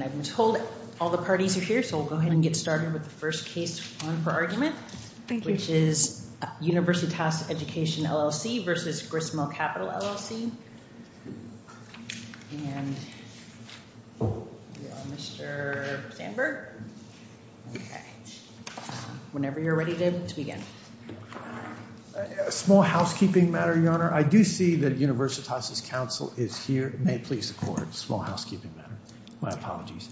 I'm told all the parties are here, so we'll go ahead and get started with the first case on for argument, which is Universitas Education, LLC v. Gristmill Capital, LLC. And we have Mr. Sandberg. Okay. Whenever you're ready to begin. Small housekeeping matter, Your Honor. I do see that Universitas' counsel is here. May it please the court. Small housekeeping matter. My apologies.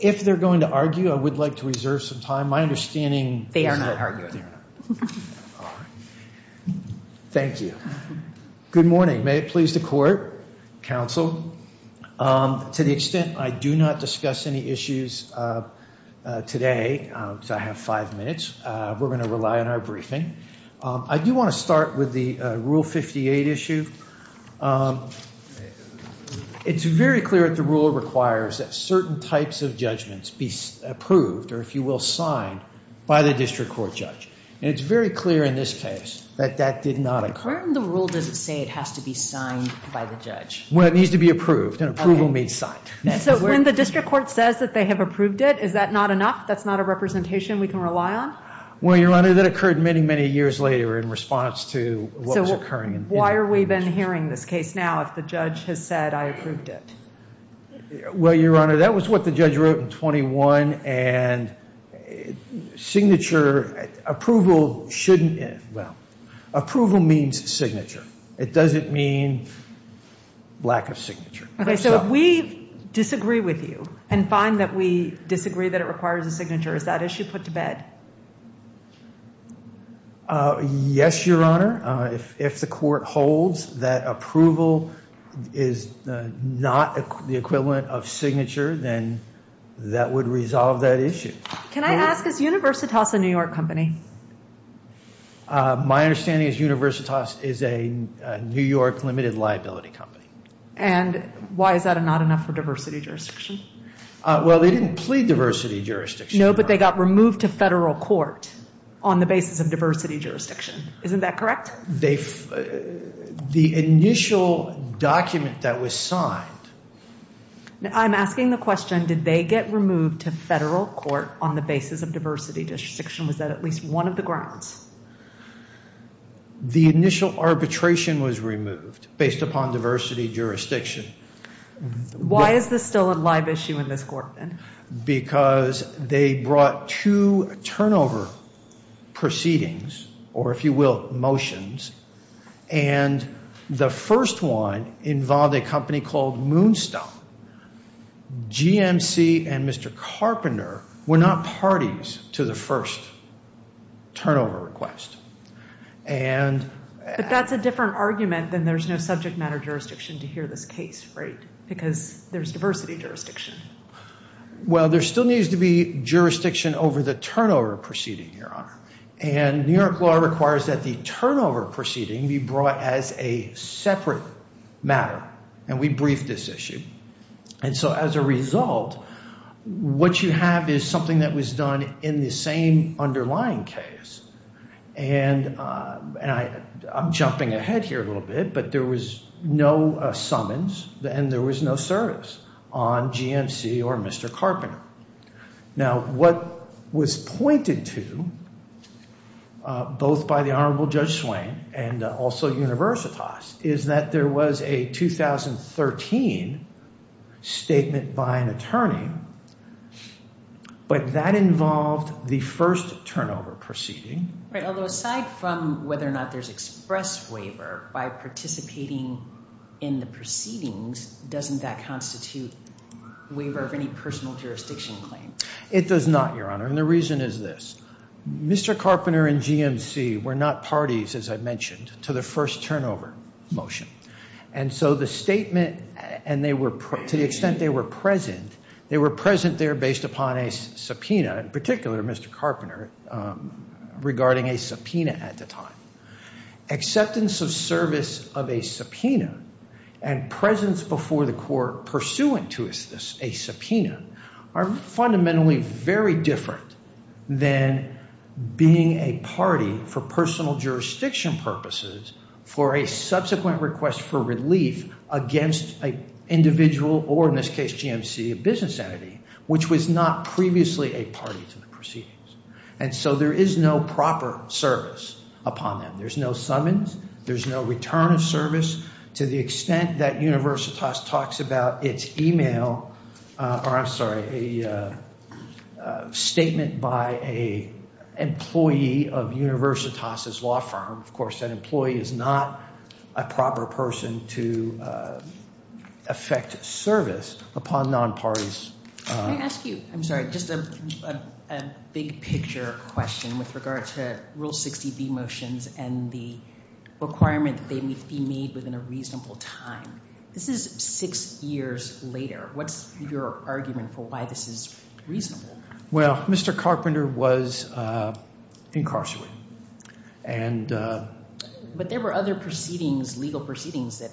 If they're going to argue, I would like to reserve some time. My understanding. They are not arguing. Thank you. Good morning. May it please the court. Counsel. To the extent I do not discuss any issues today, I have five minutes. We're going to rely on our briefing. I do want to start with the Rule 58 issue. It's very clear that the rule requires that certain types of judgments be approved, or if you will, signed by the district court judge. And it's very clear in this case that that did not occur. Where in the rule does it say it has to be signed by the judge? Well, it needs to be approved, and approval means signed. So when the district court says that they have approved it, is that not enough? That's not a representation we can rely on? Well, Your Honor, that occurred many, many years later in response to what was occurring. So why are we then hearing this case now if the judge has said I approved it? Well, Your Honor, that was what the judge wrote in 21, and signature approval shouldn't, well, approval means signature. Okay, so if we disagree with you and find that we disagree that it requires a signature, is that issue put to bed? Yes, Your Honor. If the court holds that approval is not the equivalent of signature, then that would resolve that issue. Can I ask, is Universitas a New York company? My understanding is Universitas is a New York limited liability company. And why is that not enough for diversity jurisdiction? Well, they didn't plead diversity jurisdiction. No, but they got removed to federal court on the basis of diversity jurisdiction. Isn't that correct? The initial document that was signed. I'm asking the question, did they get removed to federal court on the basis of diversity jurisdiction? Was that at least one of the grounds? The initial arbitration was removed based upon diversity jurisdiction. Why is this still a live issue in this court then? Because they brought two turnover proceedings, or if you will, motions, and the first one involved a company called Moonstone. GMC and Mr. Carpenter were not parties to the first turnover request. But that's a different argument than there's no subject matter jurisdiction to hear this case, right? Because there's diversity jurisdiction. Well, there still needs to be jurisdiction over the turnover proceeding, Your Honor. And New York law requires that the turnover proceeding be brought as a separate matter. And we briefed this issue. And so as a result, what you have is something that was done in the same underlying case. And I'm jumping ahead here a little bit, but there was no summons and there was no service on GMC or Mr. Carpenter. Now, what was pointed to, both by the Honorable Judge Swain and also Universitas, is that there was a 2013 statement by an attorney. But that involved the first turnover proceeding. Right, although aside from whether or not there's express waiver by participating in the proceedings, doesn't that constitute waiver of any personal jurisdiction claim? It does not, Your Honor. And the reason is this. Mr. Carpenter and GMC were not parties, as I mentioned, to the first turnover motion. And so the statement, and to the extent they were present, they were present there based upon a subpoena, in particular Mr. Carpenter, regarding a subpoena at the time. Acceptance of service of a subpoena and presence before the court pursuant to a subpoena are fundamentally very different than being a party, for personal jurisdiction purposes, for a subsequent request for relief against an individual, or in this case GMC, a business entity, which was not previously a party to the proceedings. And so there is no proper service upon them. There's no summons. There's no return of service to the extent that Universitas talks about its email, or I'm sorry, a statement by an employee of Universitas' law firm. Of course, that employee is not a proper person to effect service upon non-parties. Let me ask you, I'm sorry, just a big picture question with regard to Rule 60B motions and the requirement that they be made within a reasonable time. This is six years later. What's your argument for why this is reasonable? Well, Mr. Carpenter was incarcerated. But there were other proceedings, legal proceedings, that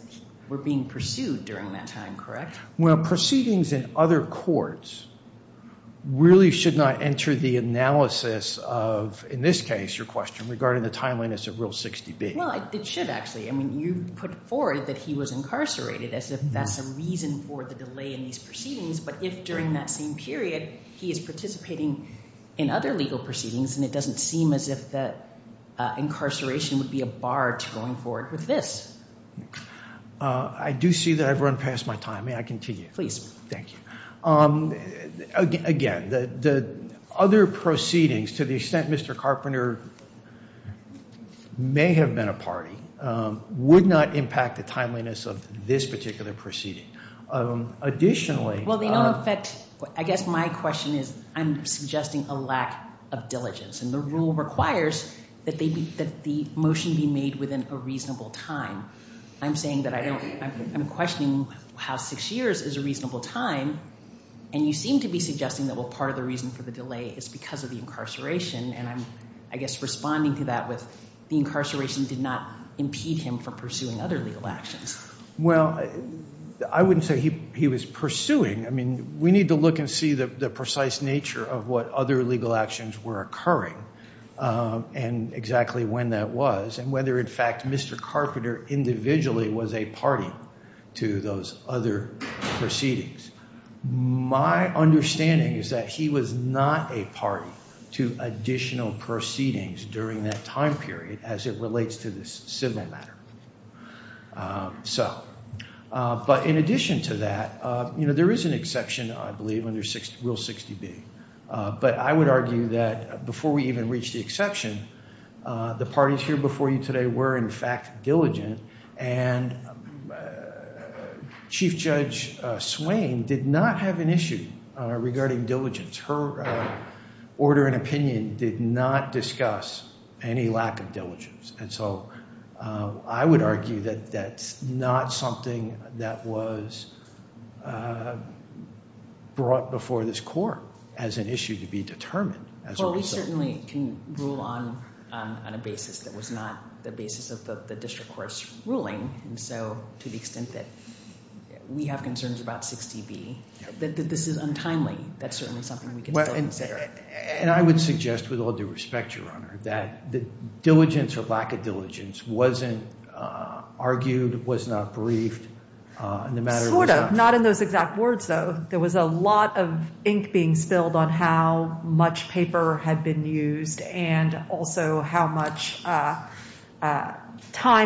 were being pursued during that time, correct? Well, proceedings in other courts really should not enter the analysis of, in this case, your question, regarding the timeliness of Rule 60B. Well, it should actually. I mean you put forward that he was incarcerated as if that's a reason for the delay in these proceedings. But if during that same period he is participating in other legal proceedings, then it doesn't seem as if that incarceration would be a bar to going forward with this. I do see that I've run past my time. May I continue? Please. Thank you. Again, the other proceedings, to the extent Mr. Carpenter may have been a party, would not impact the timeliness of this particular proceeding. Additionally— Well, they don't affect—I guess my question is I'm suggesting a lack of diligence. And the rule requires that the motion be made within a reasonable time. I'm saying that I don't—I'm questioning how six years is a reasonable time. And you seem to be suggesting that, well, part of the reason for the delay is because of the incarceration. And I'm, I guess, responding to that with the incarceration did not impede him from pursuing other legal actions. Well, I wouldn't say he was pursuing. I mean, we need to look and see the precise nature of what other legal actions were occurring and exactly when that was and whether, in fact, Mr. Carpenter individually was a party to those other proceedings. My understanding is that he was not a party to additional proceedings during that time period as it relates to this civil matter. So, but in addition to that, you know, there is an exception, I believe, under Rule 60B. But I would argue that before we even reach the exception, the parties here before you today were, in fact, diligent. And Chief Judge Swain did not have an issue regarding diligence. Her order and opinion did not discuss any lack of diligence. And so I would argue that that's not something that was brought before this court as an issue to be determined as a result. Well, we certainly can rule on a basis that was not the basis of the district court's ruling. And so to the extent that we have concerns about 60B, that this is untimely, that's certainly something we can still consider. And I would suggest, with all due respect, Your Honor, that the diligence or lack of diligence wasn't argued, was not briefed. Sort of. Not in those exact words, though. There was a lot of ink being spilled on how much paper had been used and also how much time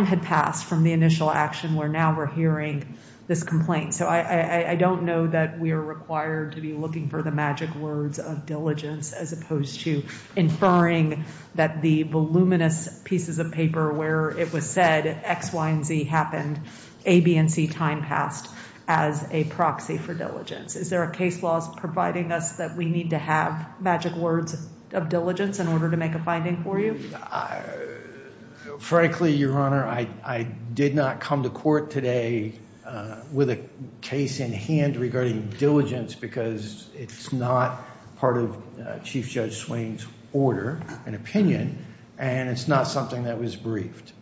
had passed from the initial action where now we're hearing this complaint. So I don't know that we are required to be looking for the magic words of diligence, as opposed to inferring that the voluminous pieces of paper where it was said X, Y, and Z happened, A, B, and C time passed as a proxy for diligence. Is there a case law providing us that we need to have magic words of diligence in order to make a finding for you? Frankly, Your Honor, I did not come to court today with a case in hand regarding diligence, because it's not part of Chief Judge Swain's order and opinion, and it's not something that was briefed.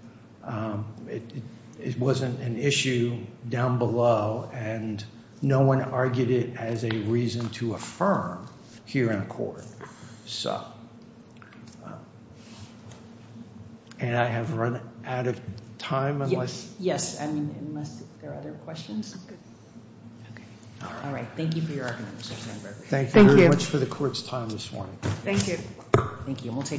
It wasn't an issue down below, and no one argued it as a reason to affirm here in court. And I have run out of time. Yes. Yes. I mean, unless there are other questions. All right. Thank you for your argument, Mr. Sandberg. Thank you very much for the court's time this morning. Thank you. Thank you.